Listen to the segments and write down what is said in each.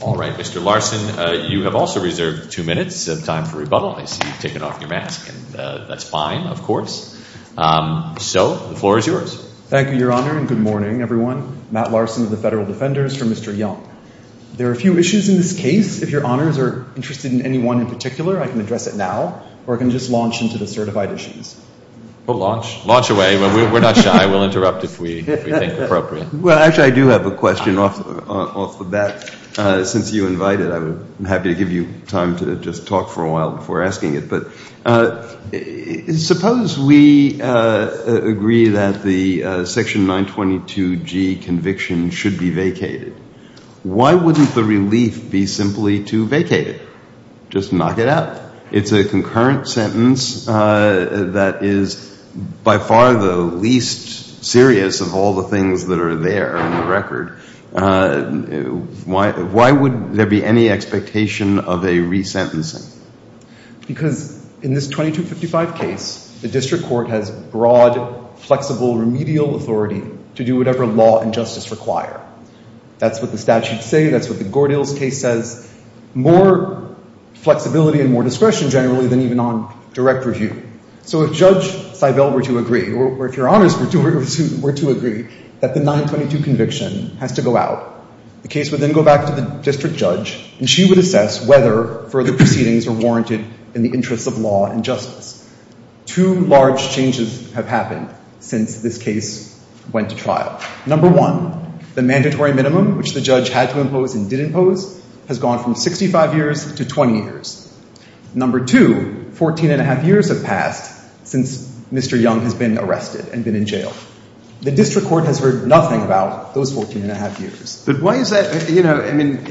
All right. Mr. Larson, you have also reserved two minutes of time for rebuttal. I see you've taken off your mask, and that's fine, of course. So the floor is yours. Thank you, Your Honor, and good morning, everyone. Matt Larson of the Federal Defenders for Mr. Young. There are a few issues in this case. If Your Honors are interested in any one in particular, I can address it now, or I can just launch into the certified issues. Well, launch. Launch away. We're not shy. We'll interrupt if we think appropriate. Well, actually, I do have a question off the bat. Since you invited, I'm happy to give you time to just talk for a while before asking it. But suppose we agree that the Section 922G conviction should be vacated. Why wouldn't the relief be simply to vacate it, just knock it out? It's a concurrent sentence that is by far the least serious of all the things that are there in the record. Why would there be any expectation of a resentencing? Because in this 2255 case, the district court has broad, flexible, remedial authority to do whatever law and justice require. That's what the statutes say. That's what the Gordill's case says. More flexibility and more discretion generally than even on direct review. So if Judge Seibel were to agree, or if Your Honors were to agree, that the 922 conviction has to go out, the case would then go back to the district judge, and she would assess whether further proceedings are warranted in the interests of law and justice. Two large changes have happened since this case went to trial. Number one, the mandatory minimum, which the judge had to impose and did impose, has gone from 65 years to 20 years. Number two, 14 and a half years have passed since Mr. Young has been arrested and been in jail. The district court has heard nothing about those 14 and a half years. But why is that? You know, I mean,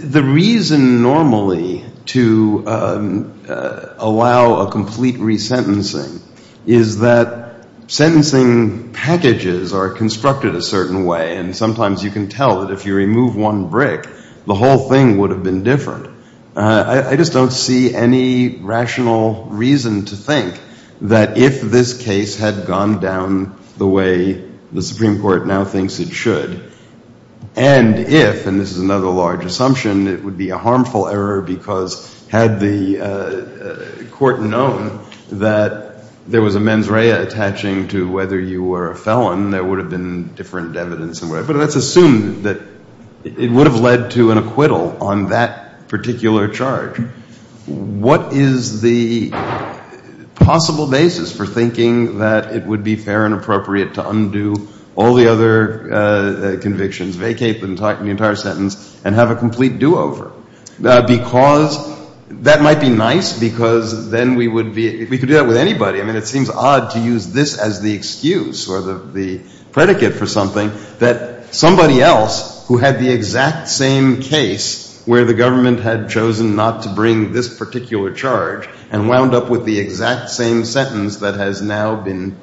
the reason normally to allow a complete resentencing is that sentencing packages are constructed a certain way, and sometimes you can tell that if you remove one brick, the whole thing would have been different. I just don't see any rational reason to think that if this case had gone down the way the Supreme Court now thinks it should, and if, and this is another large assumption, it would be a harmful error because had the court known that there was a mens rea attaching to whether you were a felon, there would have been different evidence. But let's assume that it would have led to an acquittal on that particular charge. What is the possible basis for thinking that it would be fair and appropriate to undo all the other convictions, vacate the entire sentence and have a complete do-over? Because that might be nice because then we would be, we could do that with anybody. I mean, it seems odd to use this as the excuse or the predicate for something that somebody else who had the exact same case where the government had chosen not to bring this particular charge and wound up with the exact same sentence that has now been,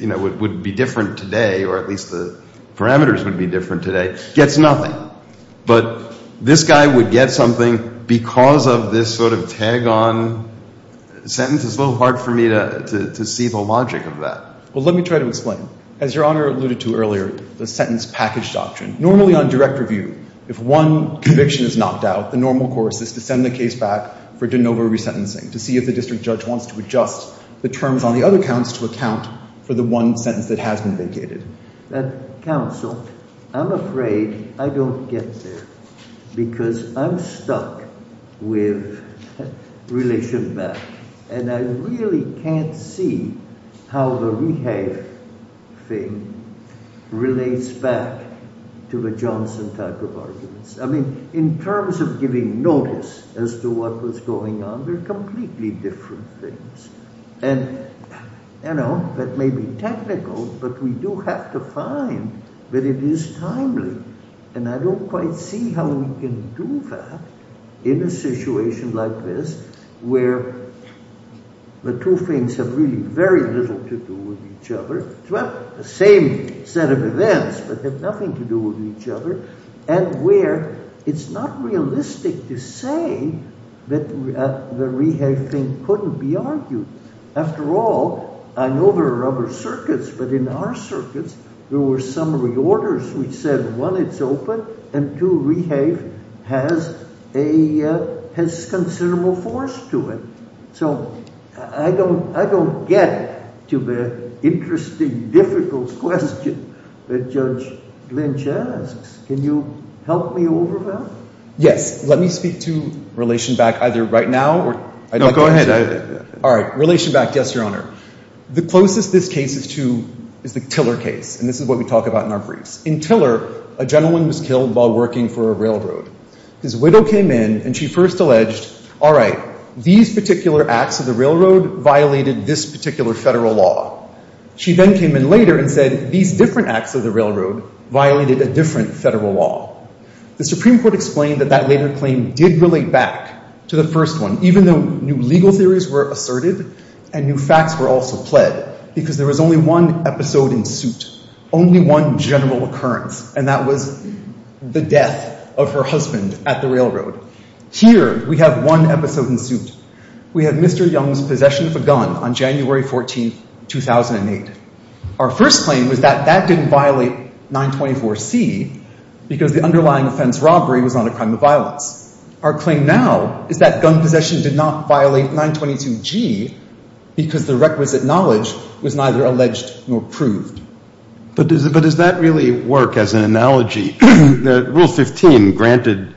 you know, would be different today, or at least the parameters would be different today, gets nothing. But this guy would get something because of this sort of tag-on sentence. It's a little hard for me to see the logic of that. Well, let me try to explain. As Your Honor alluded to earlier, the sentence package doctrine. Normally on direct review, if one conviction is knocked out, the normal course is to send the case back for de novo resentencing to see if the district judge wants to adjust the terms on the other counts to account for the one sentence that has been vacated. That counsel, I'm afraid I don't get there because I'm stuck with relation back. And I really can't see how the rehab thing relates back to the Johnson type of arguments. I mean, in terms of giving notice as to what was going on, they're completely different things. And, you know, that may be technical, but we do have to find that it is timely. And I don't quite see how we can do that in a situation like this where the two things have really very little to do with each other. Well, the same set of events, but have nothing to do with each other, and where it's not realistic to say that the rehab thing couldn't be argued. After all, I know there are other circuits, but in our circuits, there were some reorders which said, one, it's open, and two, rehab has considerable force to it. So I don't get to the interesting, difficult question that Judge Lynch asks. Can you help me over that? Yes. Let me speak to relation back either right now or – No, go ahead. All right. Relation back, yes, Your Honor. The closest this case is to is the Tiller case, and this is what we talk about in our briefs. In Tiller, a gentleman was killed while working for a railroad. His widow came in, and she first alleged, all right, these particular acts of the railroad violated this particular federal law. She then came in later and said, these different acts of the railroad violated a different federal law. The Supreme Court explained that that later claim did relate back to the first one, even though new legal theories were asserted and new facts were also pled, because there was only one episode in suit, only one general occurrence, and that was the death of her husband at the railroad. Here, we have one episode in suit. We have Mr. Young's possession of a gun on January 14, 2008. Our first claim was that that didn't violate 924C because the underlying offense, robbery, was not a crime of violence. Our claim now is that gun possession did not violate 922G because the requisite knowledge was neither alleged nor proved. But does that really work as an analogy? Rule 15, granted,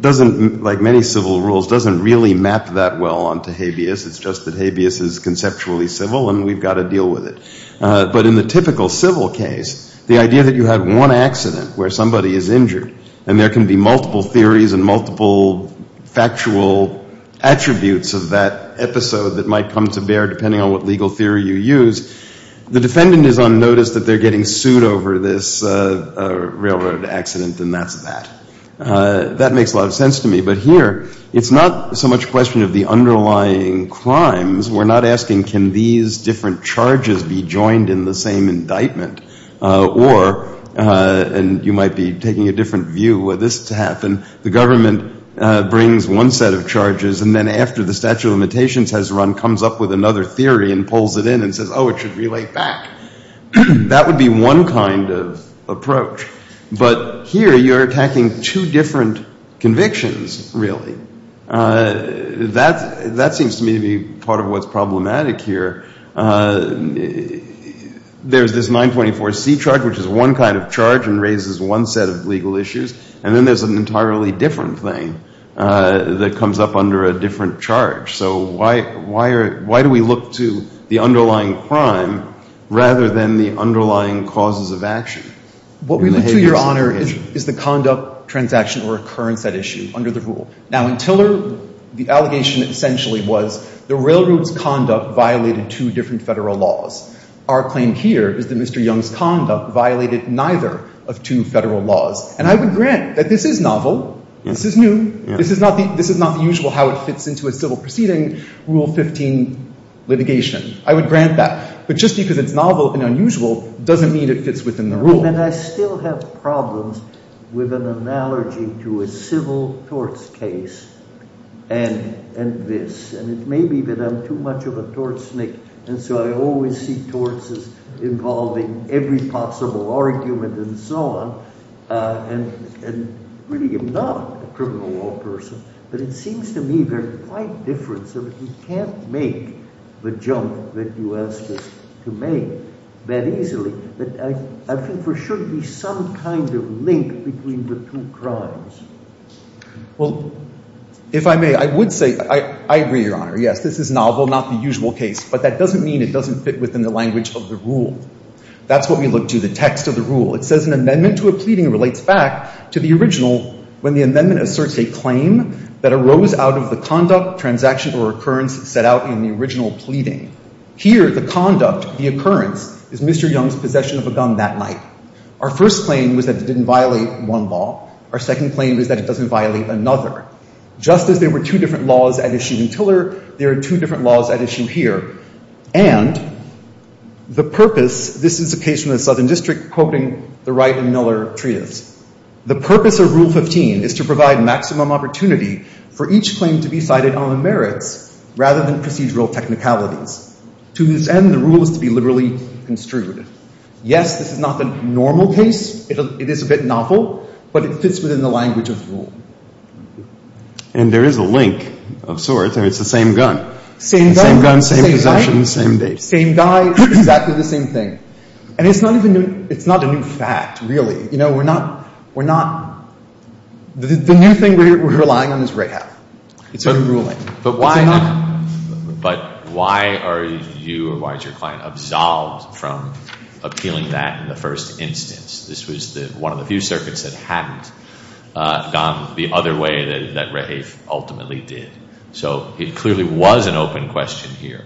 doesn't, like many civil rules, doesn't really map that well onto habeas. It's just that habeas is conceptually civil, and we've got to deal with it. But in the typical civil case, the idea that you have one accident where somebody is injured and there can be multiple theories and multiple factual attributes of that episode that might come to bear depending on what legal theory you use, the defendant is unnoticed that they're getting sued over this railroad accident, and that's that. That makes a lot of sense to me. But here, it's not so much a question of the underlying crimes. We're not asking, can these different charges be joined in the same indictment? Or, and you might be taking a different view of this to happen, the government brings one set of charges, and then after the statute of limitations has run, comes up with another theory and pulls it in and says, oh, it should be laid back. But here, you're attacking two different convictions, really. That seems to me to be part of what's problematic here. There's this 924C charge, which is one kind of charge and raises one set of legal issues, and then there's an entirely different thing that comes up under a different charge. So why do we look to the underlying crime rather than the underlying causes of action? What we look to, Your Honor, is the conduct, transaction, or occurrence at issue under the rule. Now, in Tiller, the allegation essentially was the railroad's conduct violated two different Federal laws. Our claim here is that Mr. Young's conduct violated neither of two Federal laws. And I would grant that this is novel. This is new. This is not the usual how it fits into a civil proceeding, Rule 15 litigation. I would grant that. But just because it's novel and unusual doesn't mean it fits within the rule. And I still have problems with an analogy to a civil torts case and this. And it may be that I'm too much of a tortsnick, and so I always see torts as involving every possible argument and so on and really am not a criminal law person. But it seems to me they're quite different, so that we can't make the jump that you asked us to make that easily. But I think there should be some kind of link between the two crimes. Well, if I may, I would say I agree, Your Honor. Yes, this is novel, not the usual case. But that doesn't mean it doesn't fit within the language of the rule. That's what we look to, the text of the rule. It says an amendment to a pleading relates back to the original when the amendment asserts a claim that arose out of the conduct, transaction, or occurrence set out in the original pleading. Here, the conduct, the occurrence, is Mr. Young's possession of a gun that night. Our first claim was that it didn't violate one law. Our second claim was that it doesn't violate another. Just as there were two different laws at issue in Tiller, there are two different laws at issue here. And the purpose, this is a case from the Southern District, quoting the Wright and Miller treatise. The purpose of Rule 15 is to provide maximum opportunity for each claim to be cited on the merits rather than procedural technicalities. To this end, the rule is to be liberally construed. Yes, this is not the normal case. It is a bit novel. But it fits within the language of the rule. And there is a link of sorts, and it's the same gun. Same gun, same possession, same date. Same guy, exactly the same thing. And it's not a new fact, really. You know, we're not — we're not — the new thing we're relying on is Rahaf. It's a new ruling. But why not? But why are you or why is your client absolved from appealing that in the first instance? This was one of the few circuits that hadn't gone the other way that Rahaf ultimately did. So it clearly was an open question here.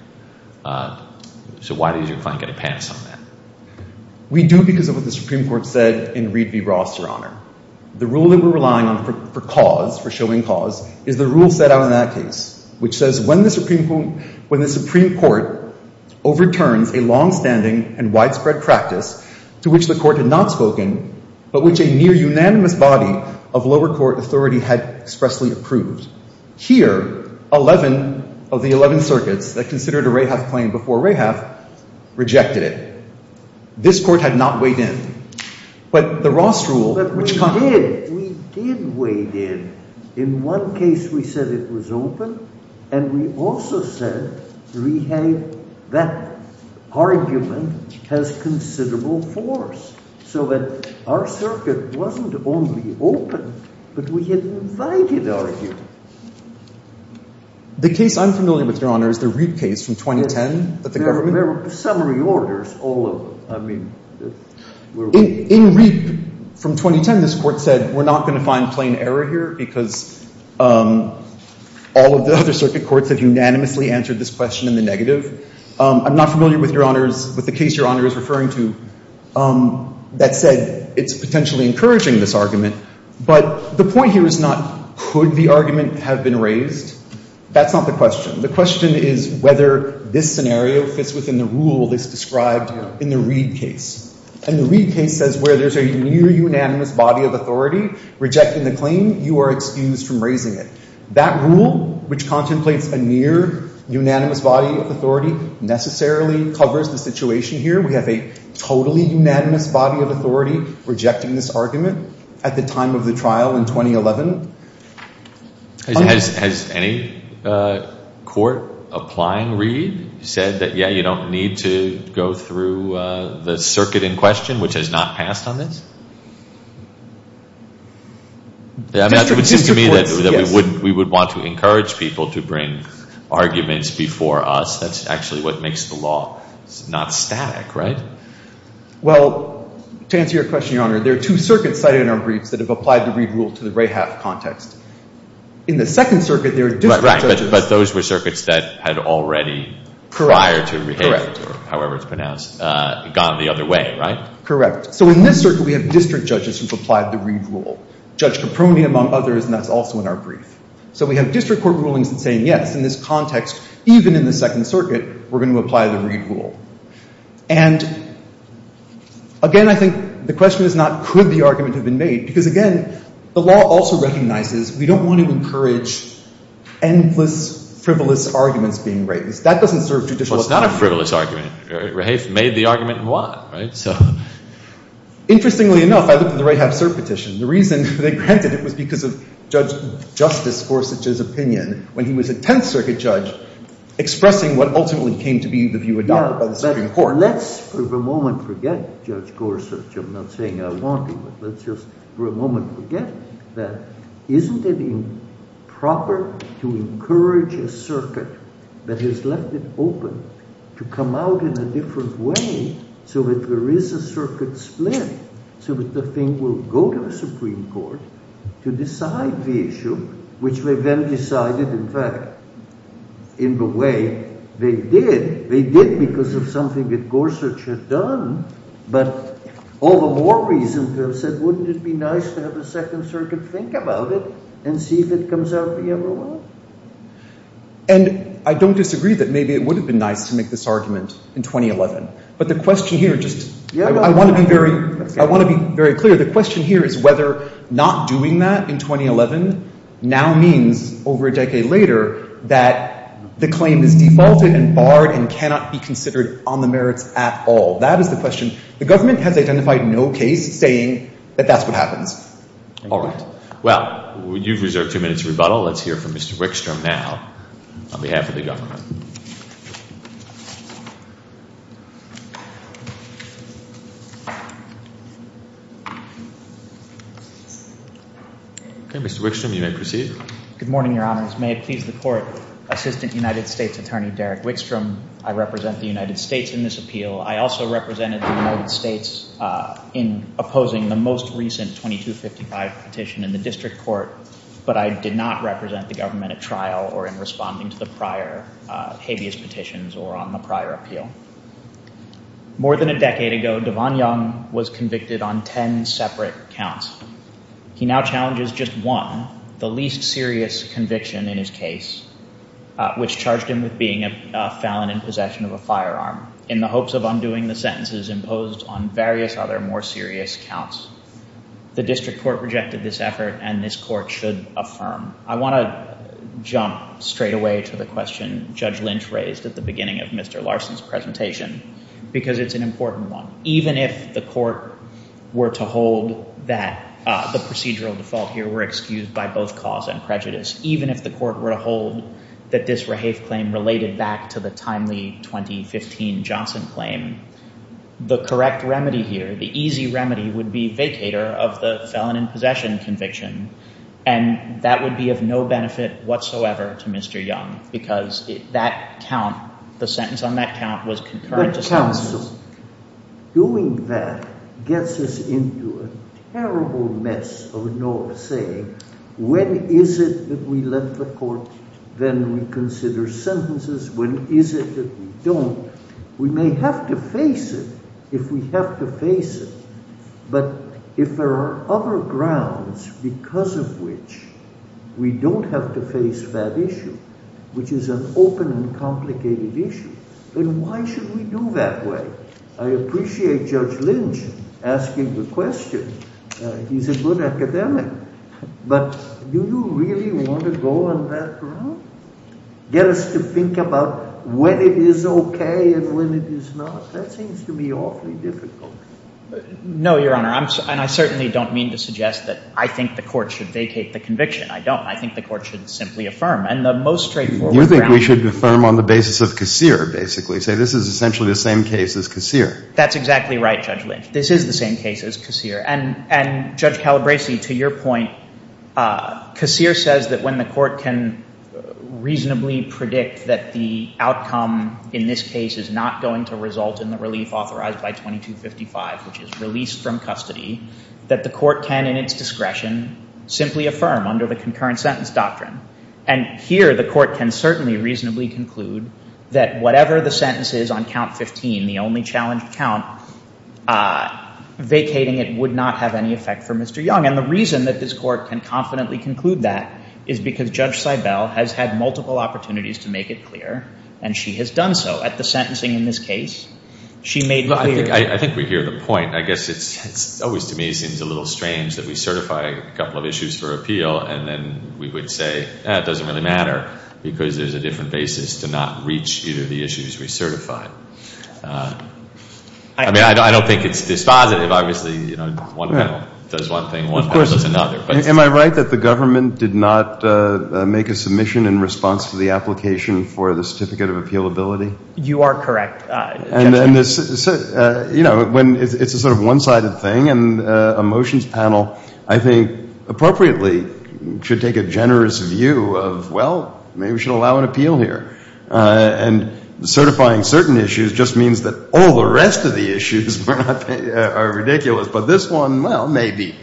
So why did your client get a pass on that? We do because of what the Supreme Court said in Reed v. Ross, Your Honor. The rule that we're relying on for cause, for showing cause, is the rule set out in that case, which says when the Supreme Court overturns a longstanding and widespread practice to which the court had not spoken but which a near-unanimous body of lower court authority had expressly approved. Here, 11 of the 11 circuits that considered a Rahaf claim before Rahaf rejected it. This court had not weighed in. But the Ross rule, which — But we did. We did weigh in. In one case, we said it was open, and we also said we had — that argument has considerable force so that our circuit wasn't only open, but we had invited argument. The case I'm familiar with, Your Honor, is the Reed case from 2010 that the government — There were summary orders all over. I mean — In Reed from 2010, this court said we're not going to find plain error here because all of the other circuit courts have unanimously answered this question in the negative. I'm not familiar with Your Honor's — with the case Your Honor is referring to that said it's potentially encouraging this argument. But the point here is not could the argument have been raised. That's not the question. The question is whether this scenario fits within the rule that's described in the Reed case. And the Reed case says where there's a near-unanimous body of authority rejecting the claim, you are excused from raising it. That rule, which contemplates a near-unanimous body of authority, necessarily covers the situation here. We have a totally unanimous body of authority rejecting this argument at the time of the trial in 2011. Has any court applying Reed said that, yeah, you don't need to go through the circuit in question, which has not passed on this? District courts, yes. It seems to me that we would want to encourage people to bring arguments before us. That's actually what makes the law not static, right? Well, to answer your question, Your Honor, there are two circuits cited in our briefs that have applied the Reed rule to the Rahaff context. In the Second Circuit, there are district judges — Right, right. But those were circuits that had already prior to — Correct, correct. — or however it's pronounced, gone the other way, right? Correct. So in this circuit, we have district judges who've applied the Reed rule. Judge Caproni, among others, and that's also in our brief. So we have district court rulings that say, yes, in this context, even in the Second Circuit, we're going to apply the Reed rule. And, again, I think the question is not could the argument have been made, because, again, the law also recognizes we don't want to encourage endless, frivolous arguments being raised. That doesn't serve judicial — Well, it's not a frivolous argument. Rahaff made the argument in Watt, right? So — Interestingly enough, I looked at the Rahaff cert petition. The reason they granted it was because of Justice Gorsuch's opinion when he was a Tenth Circuit judge expressing what ultimately came to be the view adopted by the Supreme Court. Now, let's for a moment forget Judge Gorsuch. I'm not saying I want to, but let's just for a moment forget that. Isn't it improper to encourage a circuit that has left it open to come out in a different way so that there is a circuit split, so that the thing will go to the Supreme Court to decide the issue, which they then decided, in fact, in the way they did? They did because of something that Gorsuch had done. But all the more reason to have said, wouldn't it be nice to have the Second Circuit think about it and see if it comes out the other way? And I don't disagree that maybe it would have been nice to make this argument in 2011. But the question here just — I want to be very clear. The question here is whether not doing that in 2011 now means, over a decade later, that the claim is defaulted and barred and cannot be considered on the merits at all. That is the question. The government has identified no case saying that that's what happens. All right. Well, you've reserved two minutes to rebuttal. Let's hear from Mr. Wickstrom now on behalf of the government. Mr. Wickstrom, you may proceed. Good morning, Your Honors. May it please the Court, Assistant United States Attorney Derek Wickstrom, I represent the United States in this appeal. I also represented the United States in opposing the most recent 2255 petition in the district court, but I did not represent the government at trial or in responding to the prior habeas petitions or on the prior appeal. More than a decade ago, Devon Young was convicted on ten separate counts. He now challenges just one, the least serious conviction in his case, which charged him with being a felon in possession of a firearm. In the hopes of undoing the sentences imposed on various other more serious counts, the district court rejected this effort and this court should affirm. I want to jump straight away to the question Judge Lynch raised at the beginning of Mr. Larson's presentation because it's an important one. Even if the court were to hold that the procedural default here were excused by both cause and prejudice, even if the court were to hold that this rehave claim related back to the timely 2015 Johnson claim, the correct remedy here, the easy remedy would be vacator of the felon in possession conviction. And that would be of no benefit whatsoever to Mr. Young because that count, the sentence on that count was concurrent. But counsel, doing that gets us into a terrible mess of no say. When is it that we let the court then reconsider sentences? When is it that we don't? We may have to face it if we have to face it. But if there are other grounds because of which we don't have to face that issue, which is an open and complicated issue, then why should we do that way? I appreciate Judge Lynch asking the question. He's a good academic. But do you really want to go on that route? Get us to think about when it is okay and when it is not. That seems to me awfully difficult. No, Your Honor. And I certainly don't mean to suggest that I think the court should vacate the conviction. I don't. I think the court should simply affirm. And the most straightforward ground is… You think we should affirm on the basis of casseur, basically, say this is essentially the same case as casseur. That's exactly right, Judge Lynch. This is the same case as casseur. And, Judge Calabresi, to your point, casseur says that when the court can reasonably predict that the outcome in this case is not going to result in the relief authorized by 2255, which is released from custody, that the court can, in its discretion, simply affirm under the concurrent sentence doctrine. And here, the court can certainly reasonably conclude that whatever the sentence is on count 15, the only challenged count, vacating it would not have any effect for Mr. Young. And the reason that this court can confidently conclude that is because Judge Seibel has had multiple opportunities to make it clear, and she has done so. At the sentencing in this case, she made clear… I think we hear the point. I guess it's always, to me, seems a little strange that we certify a couple of issues for appeal, and then we would say, ah, it doesn't really matter because there's a different basis to not reach either of the issues we certify. I mean, I don't think it's dispositive. Obviously, you know, one panel does one thing, one panel does another. Am I right that the government did not make a submission in response to the application for the certificate of appealability? You are correct. You know, it's a sort of one-sided thing, and a motions panel, I think, appropriately should take a generous view of, well, maybe we should allow an appeal here. And certifying certain issues just means that all the rest of the issues are ridiculous, but this one, well, maybe.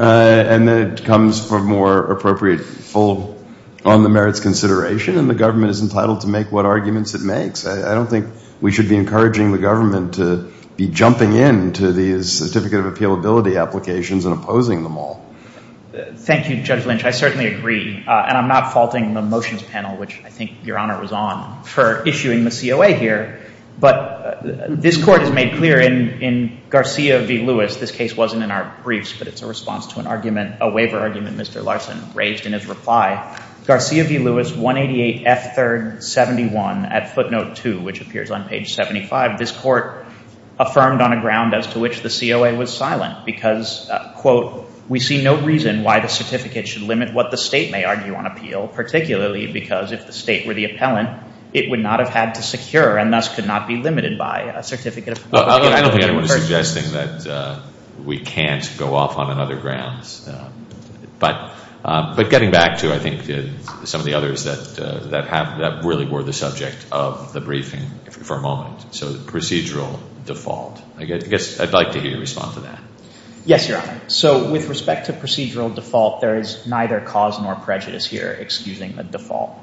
And then it comes for more appropriate full on the merits consideration, and the government is entitled to make what arguments it makes. I don't think we should be encouraging the government to be jumping into these certificate of appealability applications and opposing them all. Thank you, Judge Lynch. I certainly agree. And I'm not faulting the motions panel, which I think Your Honor was on, for issuing the COA here. But this Court has made clear in Garcia v. Lewis, this case wasn't in our briefs, but it's a response to an argument, a waiver argument Mr. Larson raised in his reply. Garcia v. Lewis, 188 F3rd 71 at footnote 2, which appears on page 75. This Court affirmed on a ground as to which the COA was silent because, quote, we see no reason why the certificate should limit what the state may argue on appeal, particularly because if the state were the appellant, it would not have had to secure and thus could not be limited by a certificate of appealability. I don't think anyone is suggesting that we can't go off on another grounds. But getting back to, I think, some of the others that really were the subject of the briefing for a moment. So procedural default. I guess I'd like to hear your response to that. Yes, Your Honor. So with respect to procedural default, there is neither cause nor prejudice here, excusing the default.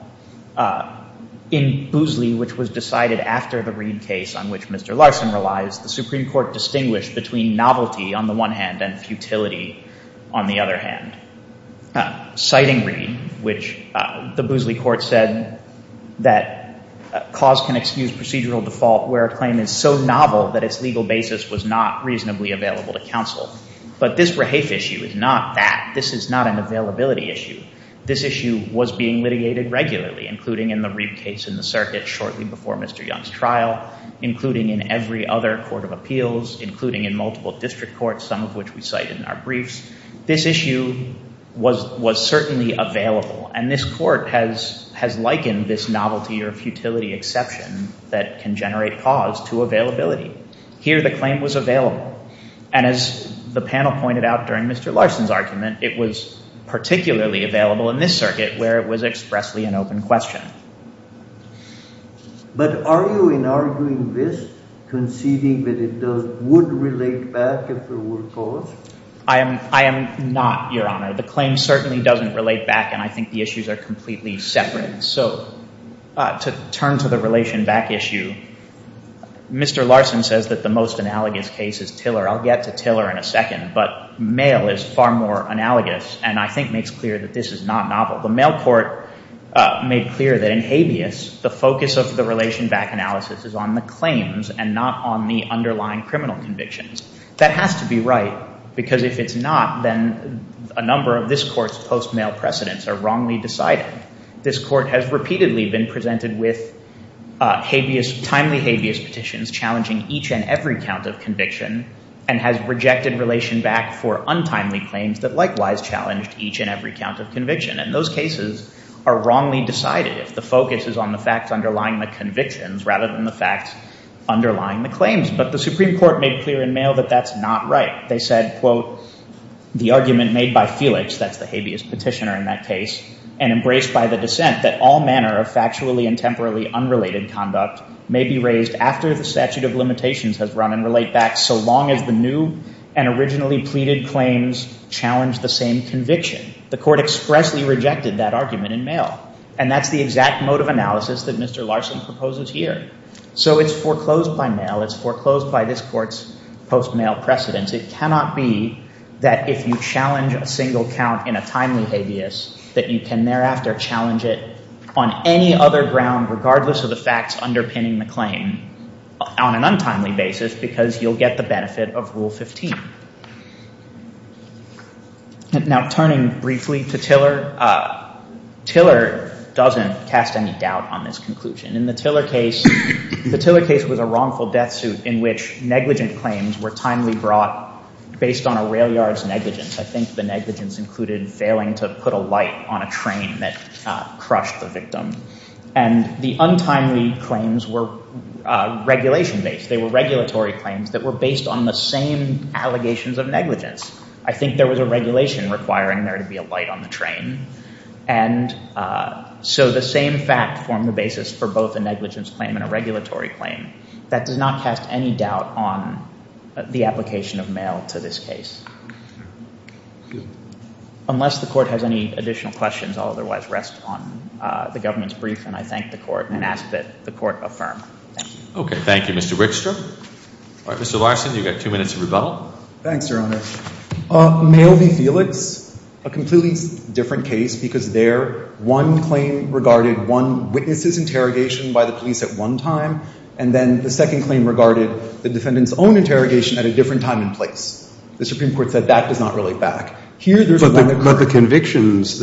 In Boosley, which was decided after the Reed case on which Mr. Larson relies, the Supreme Court distinguished between novelty on the one hand and futility on the other hand. Citing Reed, which the Boosley Court said that cause can excuse procedural default where a claim is so novel that its legal basis was not reasonably available to counsel. But this Rahafe issue is not that. This is not an availability issue. This issue was being litigated regularly, including in the Reed case in the circuit shortly before Mr. Young's trial, including in every other court of appeals, including in multiple district courts, some of which we cite in our briefs. This issue was certainly available. And this court has likened this novelty or futility exception that can generate cause to availability. Here the claim was available. And as the panel pointed out during Mr. Larson's argument, it was particularly available in this circuit where it was expressly an open question. But are you in arguing this, conceding that it would relate back if there were cause? I am not, Your Honor. The claim certainly doesn't relate back. And I think the issues are completely separate. So to turn to the relation back issue, Mr. Larson says that the most analogous case is Tiller. I'll get to Tiller in a second. But Male is far more analogous and I think makes clear that this is not novel. The Male court made clear that in habeas, the focus of the relation back analysis is on the claims and not on the underlying criminal convictions. That has to be right because if it's not, then a number of this court's post-Male precedents are wrongly decided. This court has repeatedly been presented with timely habeas petitions challenging each and every count of conviction and has rejected relation back for untimely claims that likewise challenged each and every count of conviction. And those cases are wrongly decided if the focus is on the facts underlying the convictions rather than the facts underlying the claims. But the Supreme Court made clear in Male that that's not right. They said, quote, the argument made by Felix, that's the habeas petitioner in that case, and embraced by the dissent that all manner of factually and temporally unrelated conduct may be raised after the statute of limitations has run and relate back so long as the new and originally pleaded claims challenge the same conviction. The court expressly rejected that argument in Male. And that's the exact mode of analysis that Mr. Larson proposes here. So it's foreclosed by Male. It's foreclosed by this court's post-Male precedents. It cannot be that if you challenge a single count in a timely habeas that you can thereafter challenge it on any other ground, regardless of the facts underpinning the claim, on an untimely basis because you'll get the benefit of Rule 15. Now, turning briefly to Tiller, Tiller doesn't cast any doubt on this conclusion. In the Tiller case, the Tiller case was a wrongful death suit in which negligent claims were timely brought based on a rail yard's negligence. I think the negligence included failing to put a light on a train that crushed the victim. And the untimely claims were regulation-based. They were regulatory claims that were based on the same allegations of negligence. I think there was a regulation requiring there to be a light on the train. And so the same fact formed the basis for both a negligence claim and a regulatory claim. That does not cast any doubt on the application of Male to this case. Unless the court has any additional questions, I'll otherwise rest on the government's brief. And I thank the court and ask that the court affirm. Okay, thank you, Mr. Wickstrom. All right, Mr. Larson, you've got two minutes of rebuttal. Thanks, Your Honor. Male v. Felix, a completely different case because there one claim regarded one witness's interrogation by the police at one time. And then the second claim regarded the defendant's own interrogation at a different time and place. The Supreme Court said that does not relate back. But the convictions,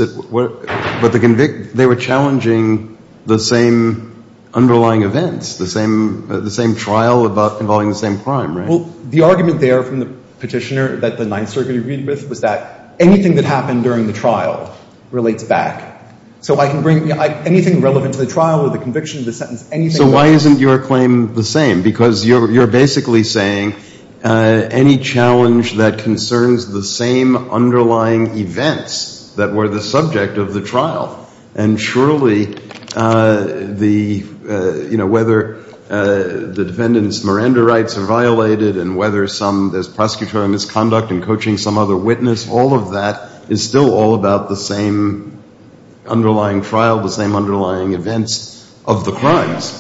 they were challenging the same underlying events, the same trial involving the same crime, right? Well, the argument there from the petitioner that the Ninth Circuit agreed with was that anything that happened during the trial relates back. So I can bring anything relevant to the trial or the conviction, the sentence, anything. So why isn't your claim the same? Because you're basically saying any challenge that concerns the same underlying events that were the subject of the trial, and surely whether the defendant's Miranda rights are violated and whether there's prosecutorial misconduct in coaching some other witness, all of that is still all about the same underlying trial, the same underlying events of the crimes.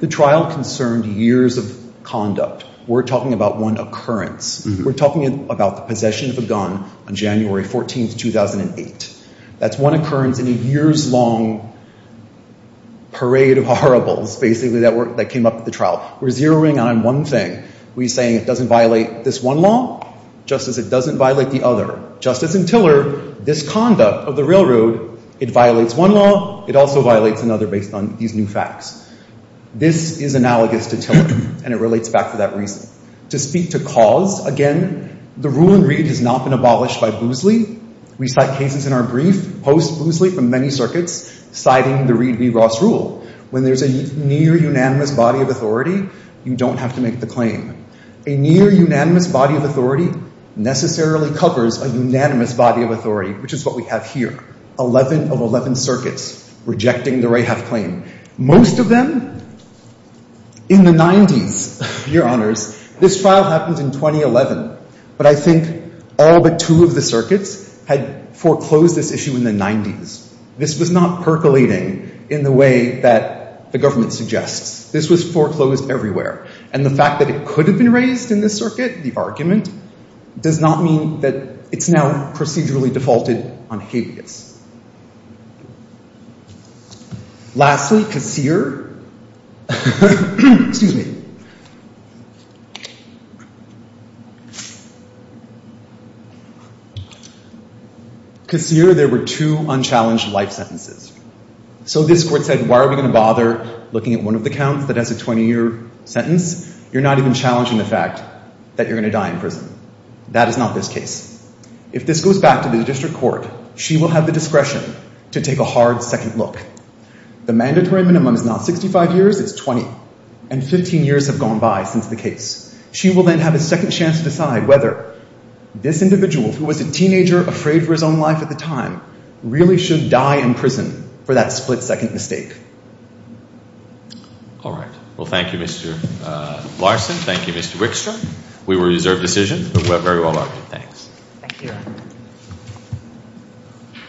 The trial concerned years of conduct. We're talking about one occurrence. We're talking about the possession of a gun on January 14, 2008. That's one occurrence in a years-long parade of horribles, basically, that came up at the trial. We're zeroing in on one thing. We're saying it doesn't violate this one law just as it doesn't violate the other. Just as in Tiller, this conduct of the railroad, it violates one law, it also violates another based on these new facts. This is analogous to Tiller, and it relates back to that reason. To speak to cause, again, the rule in Reed has not been abolished by Boozley. We cite cases in our brief post-Boozley from many circuits citing the Reed v. Ross rule. When there's a near-unanimous body of authority, you don't have to make the claim. A near-unanimous body of authority necessarily covers a unanimous body of authority, which is what we have here. 11 of 11 circuits rejecting the Rahaf claim. Most of them in the 90s, Your Honors. This trial happened in 2011, but I think all but two of the circuits had foreclosed this issue in the 90s. This was not percolating in the way that the government suggests. This was foreclosed everywhere. And the fact that it could have been raised in this circuit, the argument, does not mean that it's now procedurally defaulted on habeas. Lastly, Kassir. Excuse me. Kassir, there were two unchallenged life sentences. So this court said, why are we going to bother looking at one of the counts that has a 20-year sentence? You're not even challenging the fact that you're going to die in prison. That is not this case. If this goes back to the district court, she will have the discretion to take a hard second look. The mandatory minimum is not 65 years, it's 20. And 15 years have gone by since the case. She will then have a second chance to decide whether this individual, who was a teenager, afraid for his own life at the time, really should die in prison for that split-second mistake. All right. Well, thank you, Mr. Larson. Thank you, Mr. Wickstrom. We were a reserved decision, but very well argued. Thanks. Thank you, Your Honor.